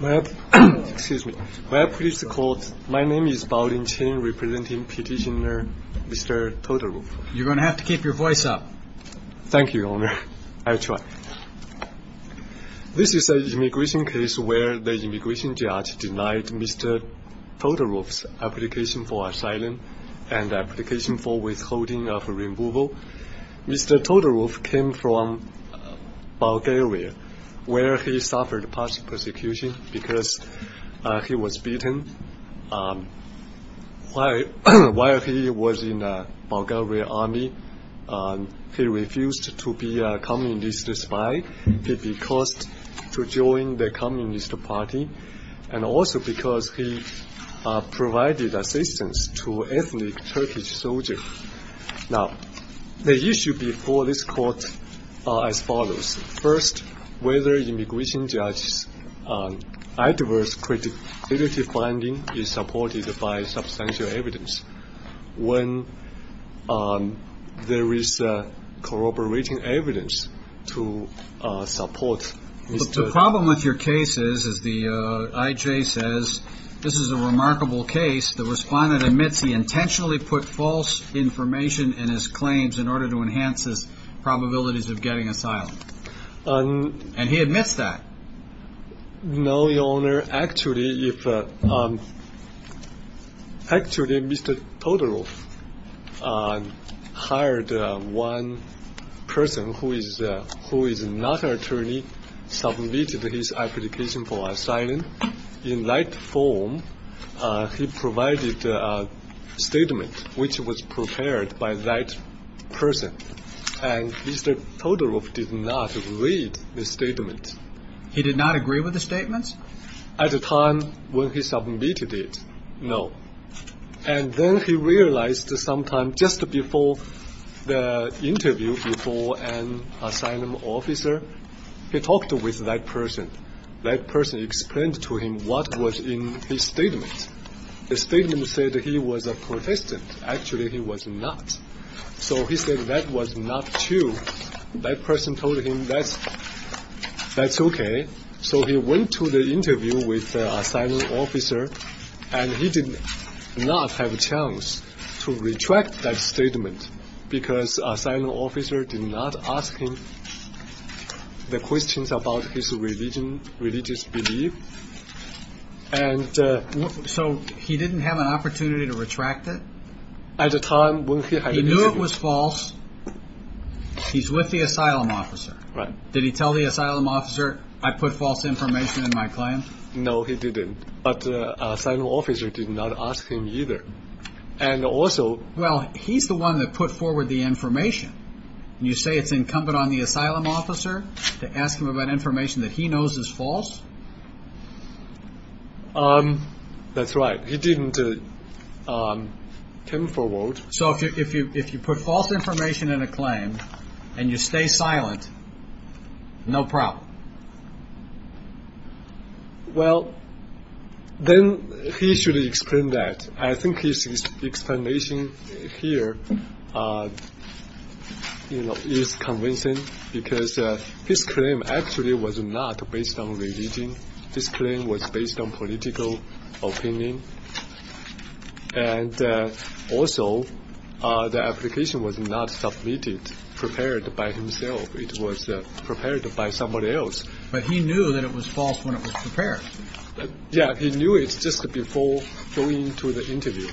This is an immigration case where the immigration judge denied Mr. Todorov's application for asylum and application for withholding of removal. Mr. Todorov came from Bulgaria where he suffered persecution because he was beaten. While he was in the Bulgarian army, he refused to be a communist spy. He was forced to join the Communist Party and also because he provided assistance to ethnic Turkish soldiers. The issue before this court is as follows. First, whether immigration judge's adverse credibility finding is supported by substantial evidence when there is corroborating evidence to support Mr. Todorov's claim. The problem with your case is, as the IJ says, this is a remarkable case. The respondent admits he intentionally put false information in his claims in order to enhance his probabilities of getting asylum. And he admits that. No, Your Honor. Actually, Mr. Todorov hired one person who is not an attorney, submitted his application for asylum. In that form, he provided a statement which was prepared by that person. And Mr. Todorov did not read the statement. He did not agree with the statements? At the time when he submitted it, no. And then he realized sometime just before the interview before an asylum officer, he talked with that person. That person explained to him what was in his statement. The statement said he was a protestant. Actually, he was not. So he said that was not true. That person told him that's okay. So he went to the interview with the asylum officer and he did not have a chance to retract that statement because the asylum officer did not ask him the questions about his religious belief. So he didn't have an opportunity to retract it? He knew it was false. He's with the asylum officer. Did he tell the asylum officer I put false information in my claim? No, he didn't. But the asylum officer did not ask him either. Well, he's the one that put forward the information. You say it's incumbent on the asylum officer to ask him about information that he knows is false? That's right. He didn't come forward. So if you put false information in a claim and you stay silent, no problem? Well, then he should explain that. I think his explanation here is convincing because his claim actually was not based on religion. His claim was based on political opinion. And also, the application was not submitted prepared by himself. It was prepared by somebody else. But he knew that it was false when it was prepared. Yeah, he knew it just before going to the interview.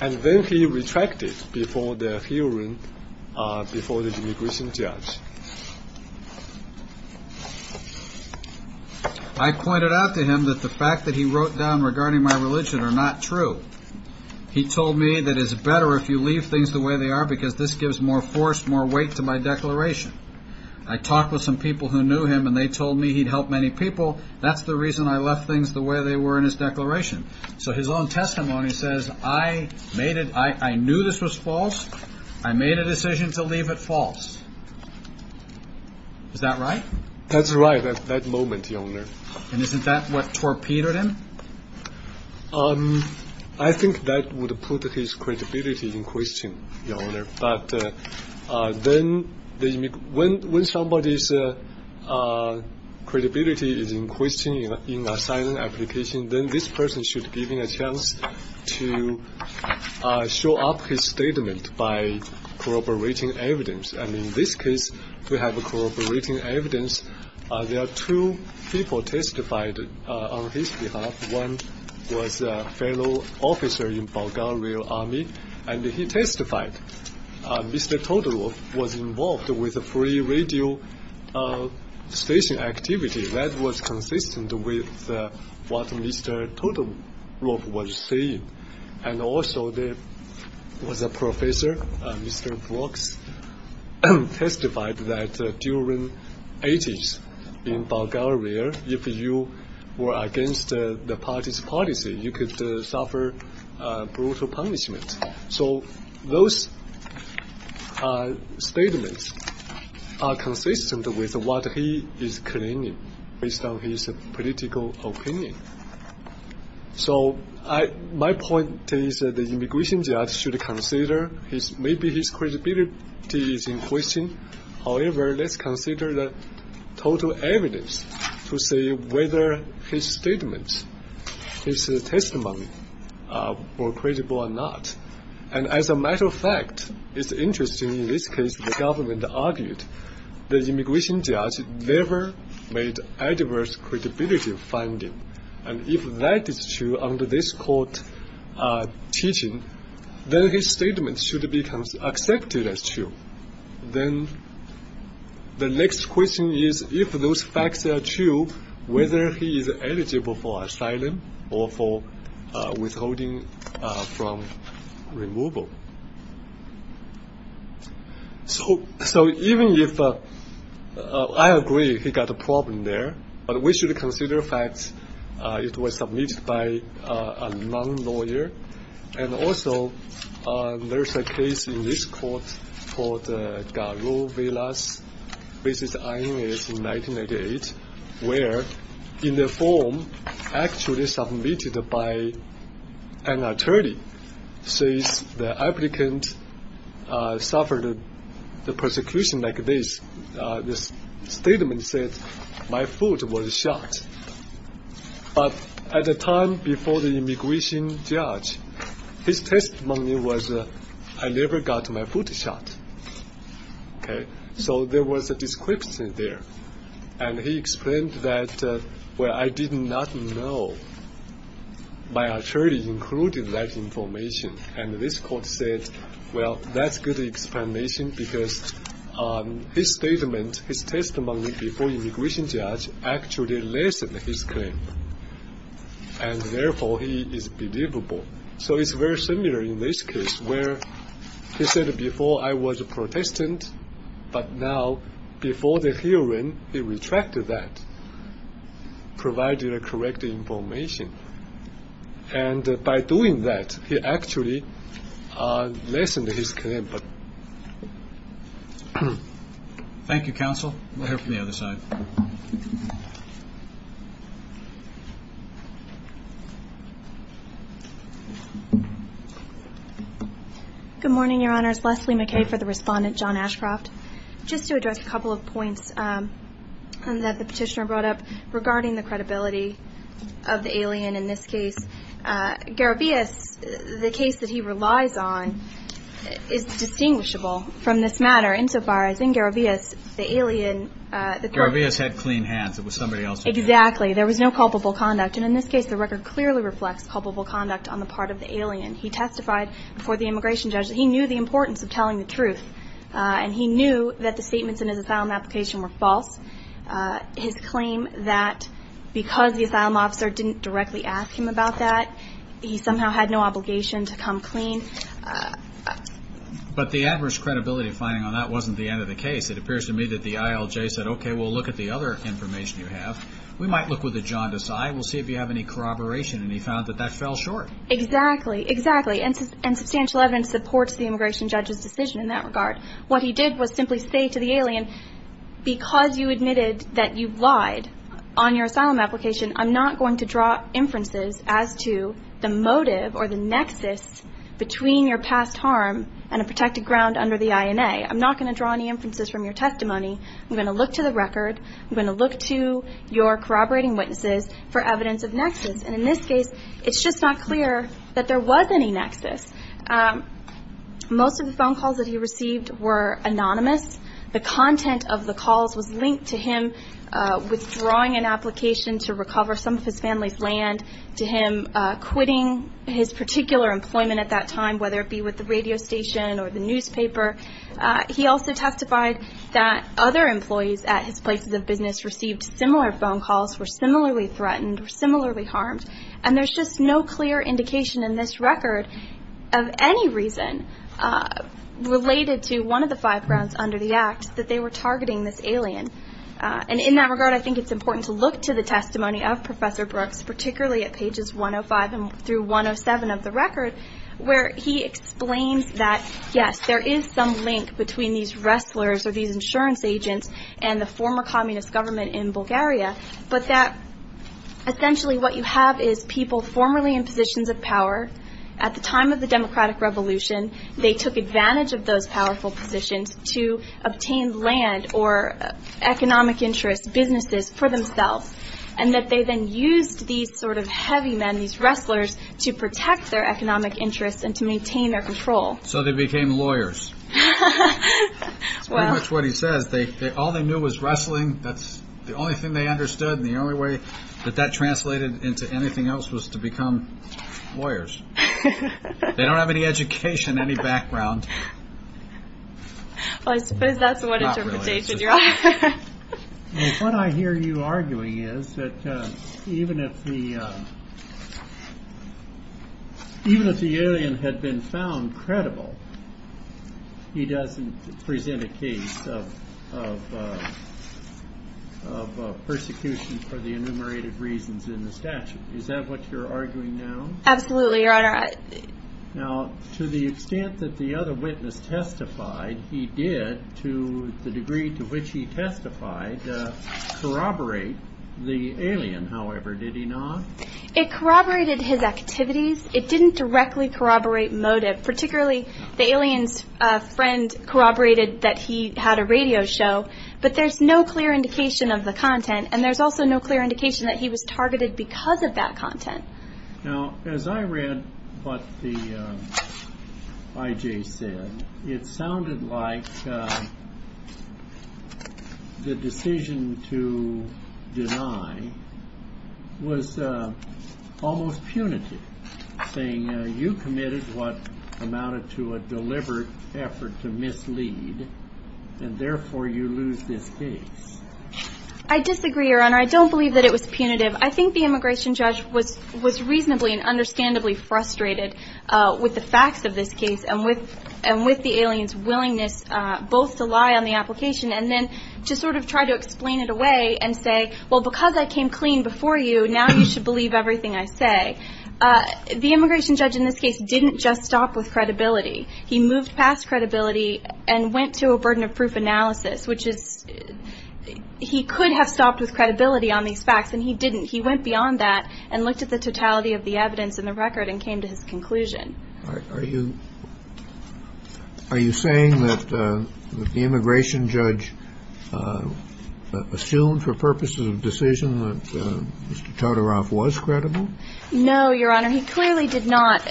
And then he retracted it before the hearing, before the immigration judge. I pointed out to him that the fact that he wrote down regarding my religion are not true. He told me that it's better if you leave things the way they are because this gives more force, more weight to my declaration. I talked with some people who knew him and they told me he'd helped many people. That's the reason I left things the way they were in his declaration. So his own testimony says, I made it, I knew this was false. I made a decision to leave it false. Is that right? That's right at that moment, Your Honor. And isn't that what torpedoed him? I think that would put his credibility in question, Your Honor. But when somebody's credibility is in question in a silent application, then this person should be given a chance to show up his statement by corroborating evidence. And in this case, we have corroborating evidence. There are two people testified on his behalf. One was a fellow officer in Bulgaria Army, and he testified. Mr. Todorov was involved with a free radio station activity that was consistent with what Mr. Todorov was saying. And also there was a professor, Mr. Brooks, testified that during the 80s in Bulgaria, if you were against the party's policy, you could suffer brutal punishment. So those statements are consistent with what he is claiming based on his political opinion. So my point is that the immigration judge should consider maybe his credibility is in question. However, let's consider the total evidence to see whether his statements, his testimony are credible or not. And as a matter of fact, it's interesting in this case the facts are true. And if that is true under this court teaching, then his statement should be accepted as true. Then the next question is if those facts are true, whether he is eligible for asylum or for withholding from removal. So even if I agree he got a problem there, but we should consider the fact it was submitted by a non-lawyer. And also there is a case in this court called Garo Vilas v. INS in which the applicant suffered the persecution like this. The statement said my foot was shot. But at the time before the immigration judge, his testimony was I never got my foot shot. So there was a description there. And he explained that I did not know my attorney included that information. And this court said, well, that's good explanation because his statement, his testimony before immigration judge actually lessened his claim. And therefore he is believable. So it's very similar in this case where he said before I was a by doing that, he actually lessened his claim. Thank you, counsel. We'll hear from the other side. Good morning, Your Honors. Leslie McKay for the respondent, John Ashcroft. Just to address a couple of points that the petitioner brought up regarding the credibility of the alien in this case. Garo Vilas, the case that he relies on is distinguishable from this matter insofar as in Garo Vilas, the alien Garo Vilas had clean hands. It was somebody else. Exactly. There was no culpable conduct. And in this case, the record clearly reflects culpable conduct on the part of the alien. He testified before the immigration judge. He knew the importance of telling the truth. And he knew that the statements in his asylum application were false. His claim that because the asylum officer didn't directly ask him about that, he somehow had no obligation to come clean. But the adverse credibility finding on that wasn't the end of the case. It appears to me that the ILJ said, OK, we'll look at the other information you have. We might look with a jaundiced eye. We'll see if you have any corroboration. And he found that that fell short. Exactly. Exactly. And substantial evidence supports the immigration judge's decision in that regard. What he did was simply say to the alien, because you admitted that you lied on your asylum application, I'm not going to draw inferences as to the motive or the nexus between your past harm and a protected ground under the INA. I'm not going to draw any inferences from your testimony. I'm going to look to the record. I'm going to look to your corroborating witnesses for evidence of nexus. And in this case, it's just not clear that there was any nexus. Most of the phone calls that he received were anonymous. The content of the calls was linked to him withdrawing an application to recover some of his family's land, to him quitting his particular employment at that time, whether it be with the radio station or the newspaper. He also testified that other employees at his places of business received similar phone calls, were similarly threatened, were similarly harmed. And there's just no clear indication in this record of any reason related to one of the five grounds under the act that they were targeting this alien. And in that regard, I think it's important to look to the testimony of Professor Brooks, particularly at pages 105 through 107 of the record, where he explains that, yes, there is some link between these wrestlers or these insurance agents and the former communist government in Bulgaria, but that essentially what you have is people formerly in positions of power. At the time of the democratic revolution, they took advantage of those powerful positions to obtain land or economic interests, businesses for themselves, and that they then used these sort of heavy men, these wrestlers, to protect their economic interests and to maintain their control. So they became lawyers. Well. That's pretty much what he says. All they knew was wrestling. That's the only thing they understood, and the only way that that translated into anything else was to become lawyers. They don't have any education, any background. Well, I suppose that's what interpretation you're offering. Well, what I hear you arguing is that even if the alien had been found credible, he doesn't present a case of persecution for the enumerated reasons in the statute. Is that what you're arguing now? Absolutely, Your Honor. Now, to the extent that the other witness testified, he did, to the degree to which he testified, corroborate the alien, however, did he not? It corroborated his activities. It didn't directly corroborate motive, particularly the alien's friend corroborated that he had a radio show, but there's no clear indication of the content, and there's also no clear indication that he was targeted because of that content. Now, as I read what the I.J. said, it sounded like the decision to deny was almost punitive, saying you committed what amounted to a deliberate effort to mislead, and therefore you lose this case. I disagree, Your Honor. I don't believe that it was punitive. I think the immigration judge was reasonably and understandably frustrated with the facts of this case and with the alien's willingness both to lie on the application and then to sort of try to explain it away and say, well, because I came clean before you, now you should believe everything I say. The immigration judge in this case didn't just stop with credibility. He moved past credibility and went to a burden of proof analysis, which is he could have stopped with credibility on these facts, and he didn't. He went beyond that and looked at the totality of the evidence in the record and came to his conclusion. Are you saying that the immigration judge assumed for purposes of decision that Mr. Totoroff was credible? No, Your Honor. He clearly did not.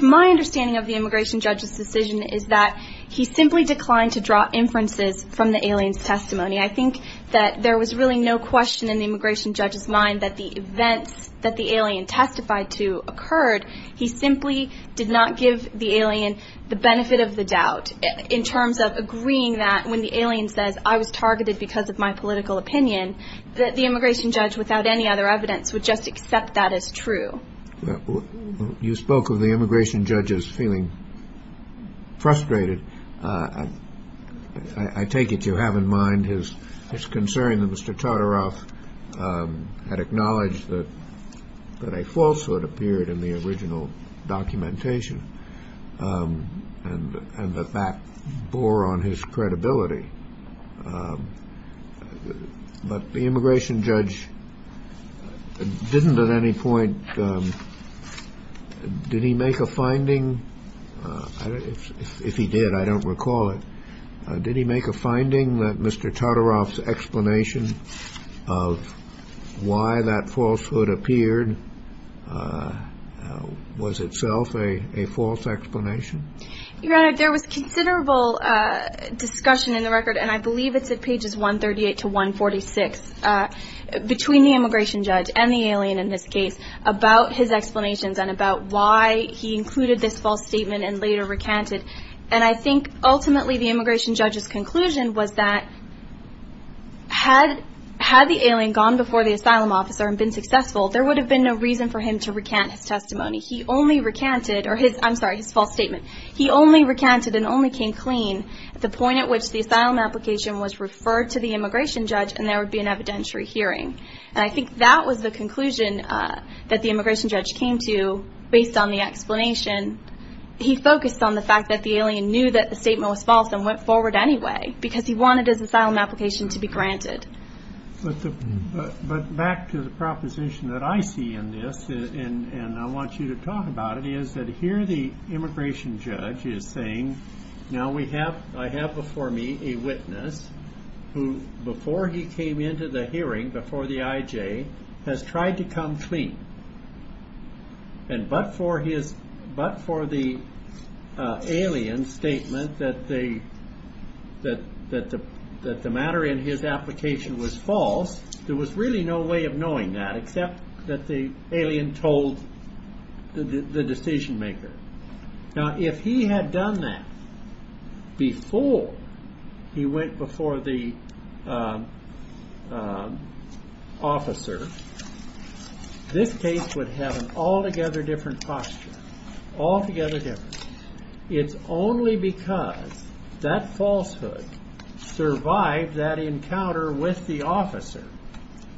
My understanding of the immigration judge's decision is that he simply declined to draw inferences from the alien's testimony. I think that there was really no question in the immigration judge's mind that the events that the alien testified to occurred. He simply did not give the alien the benefit of the doubt in terms of agreeing that when the alien says, I was targeted because of my political opinion, that the immigration judge, without any other evidence, would just accept that as true. You spoke of the immigration judge as feeling frustrated. I take it you have in mind his concern that Mr. Totoroff had acknowledged that a falsehood appeared in the original documentation and that that bore on his credibility. But the immigration judge didn't at any point, did he make a finding? If he did, I don't recall it. Did he make a finding that Mr. Totoroff's explanation of why that falsehood appeared was itself a false explanation? Your Honor, there was considerable discussion in the record, and I believe it's at pages 138 to 146, between the false statement and later recanted, and I think ultimately the immigration judge's conclusion was that had the alien gone before the asylum officer and been successful, there would have been no reason for him to recant his testimony. I'm sorry, his false statement. He only recanted and only came clean at the point at which the asylum application was referred to the immigration judge and there would be an evidentiary hearing. And I think that was the conclusion that the immigration judge came to based on the explanation. He focused on the fact that the alien knew that the statement was false and went forward anyway because he wanted his asylum application to be granted. But back to the proposition that I see in this, and I want you to talk about it, is that here the immigration judge is saying, now I have before me a witness who, before he came into the hearing, before the IJ, has tried to come clean. But for the alien's statement that the matter in his application was false, there was really no way of knowing that, except that the alien told the decision maker. Now if he had done that before he went before the officer, this case would have an altogether different posture. Altogether different. It's only because that falsehood survived that encounter with the officer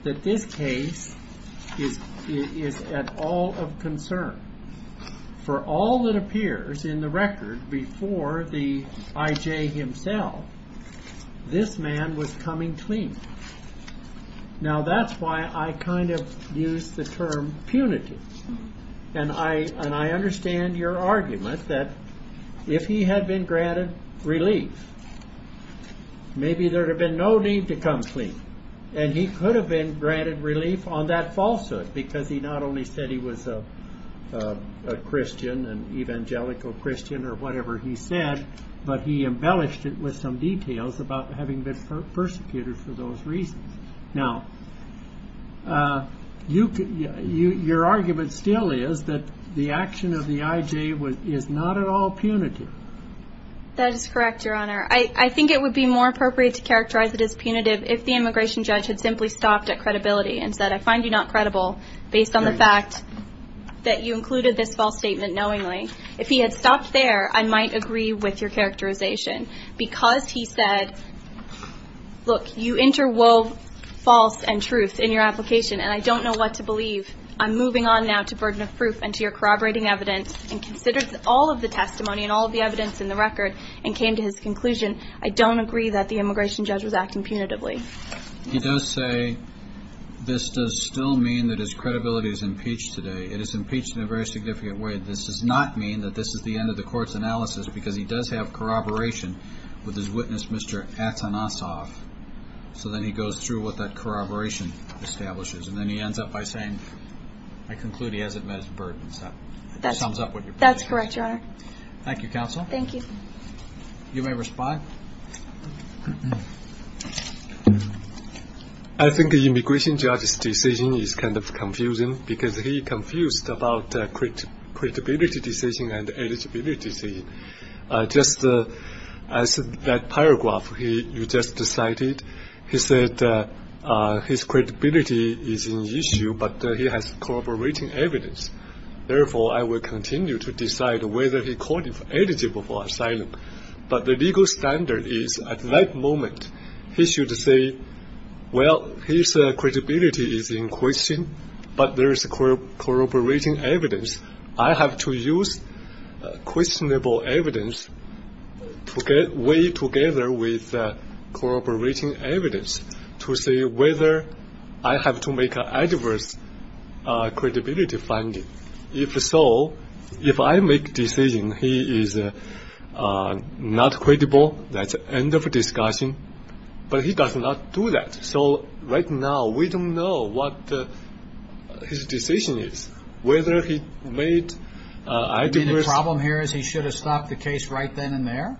that this case is at all of concern. For all that appears in the record before the IJ himself, this man was coming clean. Now that's why I kind of use the term punitive. And I understand your argument that if he had been granted relief, maybe there would have been no need to come clean. And he could have been granted relief on that falsehood, because he not only said he was a Christian, an evangelical Christian, or whatever he said, but he embellished it with some details about having been persecuted for those reasons. Now, your argument still is that the action of the IJ is not at all punitive. That is correct, Your Honor. I think it would be more appropriate to characterize it as punitive if the immigration judge had simply stopped at credibility and said, I find you not credible, based on the fact that you included this false statement knowingly. If he had stopped there, I might agree with your characterization. Because he said, look, you interwove false and truth in your application, and I don't know what to believe. I'm moving on now to burden of proof and to your corroborating evidence, and considered all of the testimony and all of the evidence in the record, and came to his conclusion, I don't agree that the immigration judge was acting punitively. He does say this does still mean that his credibility is impeached today. It is impeached in a very significant way. This does not mean that this is the end of the court's analysis, because he does have corroboration with his witness, Mr. Atanasoff. So then he goes through what that corroboration establishes, and then he ends up by saying, I conclude he hasn't met his burdens. That sums up what your point is. That's correct, Your Honor. Thank you, counsel. Thank you. You may respond. I think the immigration judge's decision is kind of confusing, because he confused about credibility decision and eligibility decision. Just as that paragraph you just cited, he said his credibility is an issue, but he has corroborating evidence. Therefore, I will continue to decide whether he is eligible for asylum. But the legal standard is at that moment he should say, well, his credibility is in question, but there is corroborating evidence. I have to use questionable evidence to weigh together with corroborating evidence to see whether I have to make an adverse credibility finding. If so, if I make a decision he is not credible, that's end of discussion. But he does not do that. So right now we don't know what his decision is, whether he made adverse. You mean the problem here is he should have stopped the case right then and there?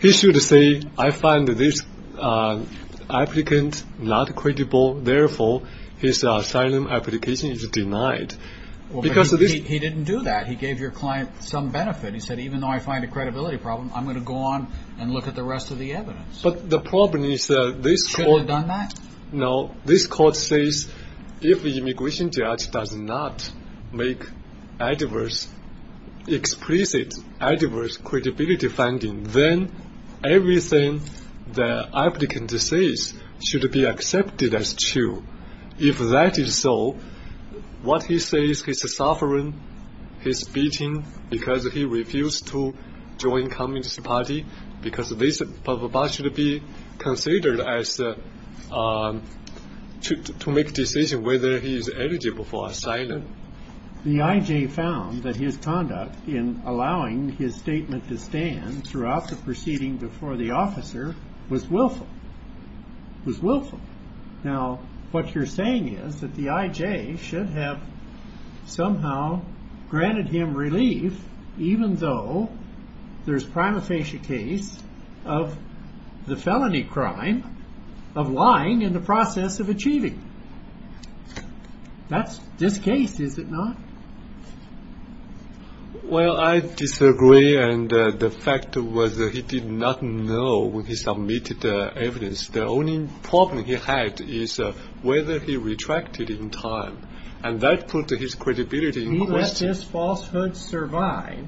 He should say, I find this applicant not credible, therefore his asylum application is denied. He didn't do that. He gave your client some benefit. He said, even though I find a credibility problem, I'm going to go on and look at the rest of the evidence. But the problem is this court. No, this court says if the immigration judge does not make adverse, explicit adverse credibility finding, then everything the applicant says should be accepted as true. If that is so, what he says, his suffering, his beating, because he refused to join Communist Party, because this should be considered as to make decision whether he is eligible for asylum. The IJ found that his conduct in allowing his statement to stand throughout the proceeding before the officer was willful. Now, what you're saying is that the IJ should have somehow granted him relief, even though there's prima facie case of the felony crime of lying in the process of achieving. That's this case, is it not? Well, I disagree, and the fact was that he did not know when he submitted the evidence. The only problem he had is whether he retracted in time, and that put his credibility in question. He let this falsehood survive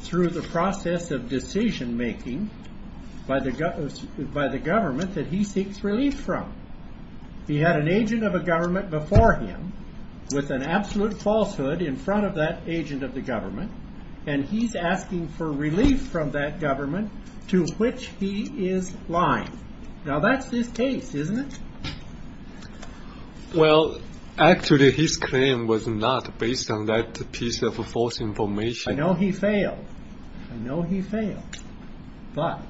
through the process of decision making by the government that he seeks relief from. He had an agent of a government before him with an absolute falsehood in front of that agent of the government, and he's asking for relief from that government to which he is lying. Now, that's this case, isn't it? Well, actually, his claim was not based on that piece of false information. I know he failed, but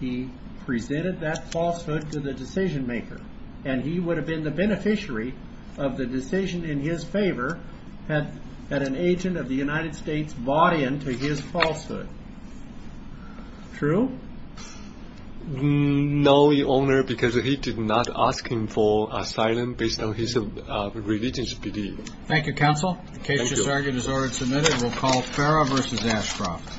he presented that falsehood to the decision maker, and he would have been the beneficiary of the decision in his favor had an agent of the United States bought into his falsehood. True? No, Your Honor, because he did not ask him for asylum based on his religious belief. Thank you. Thank you, counsel. The case has been ordered and submitted. We'll call Farrah v. Ashcroft.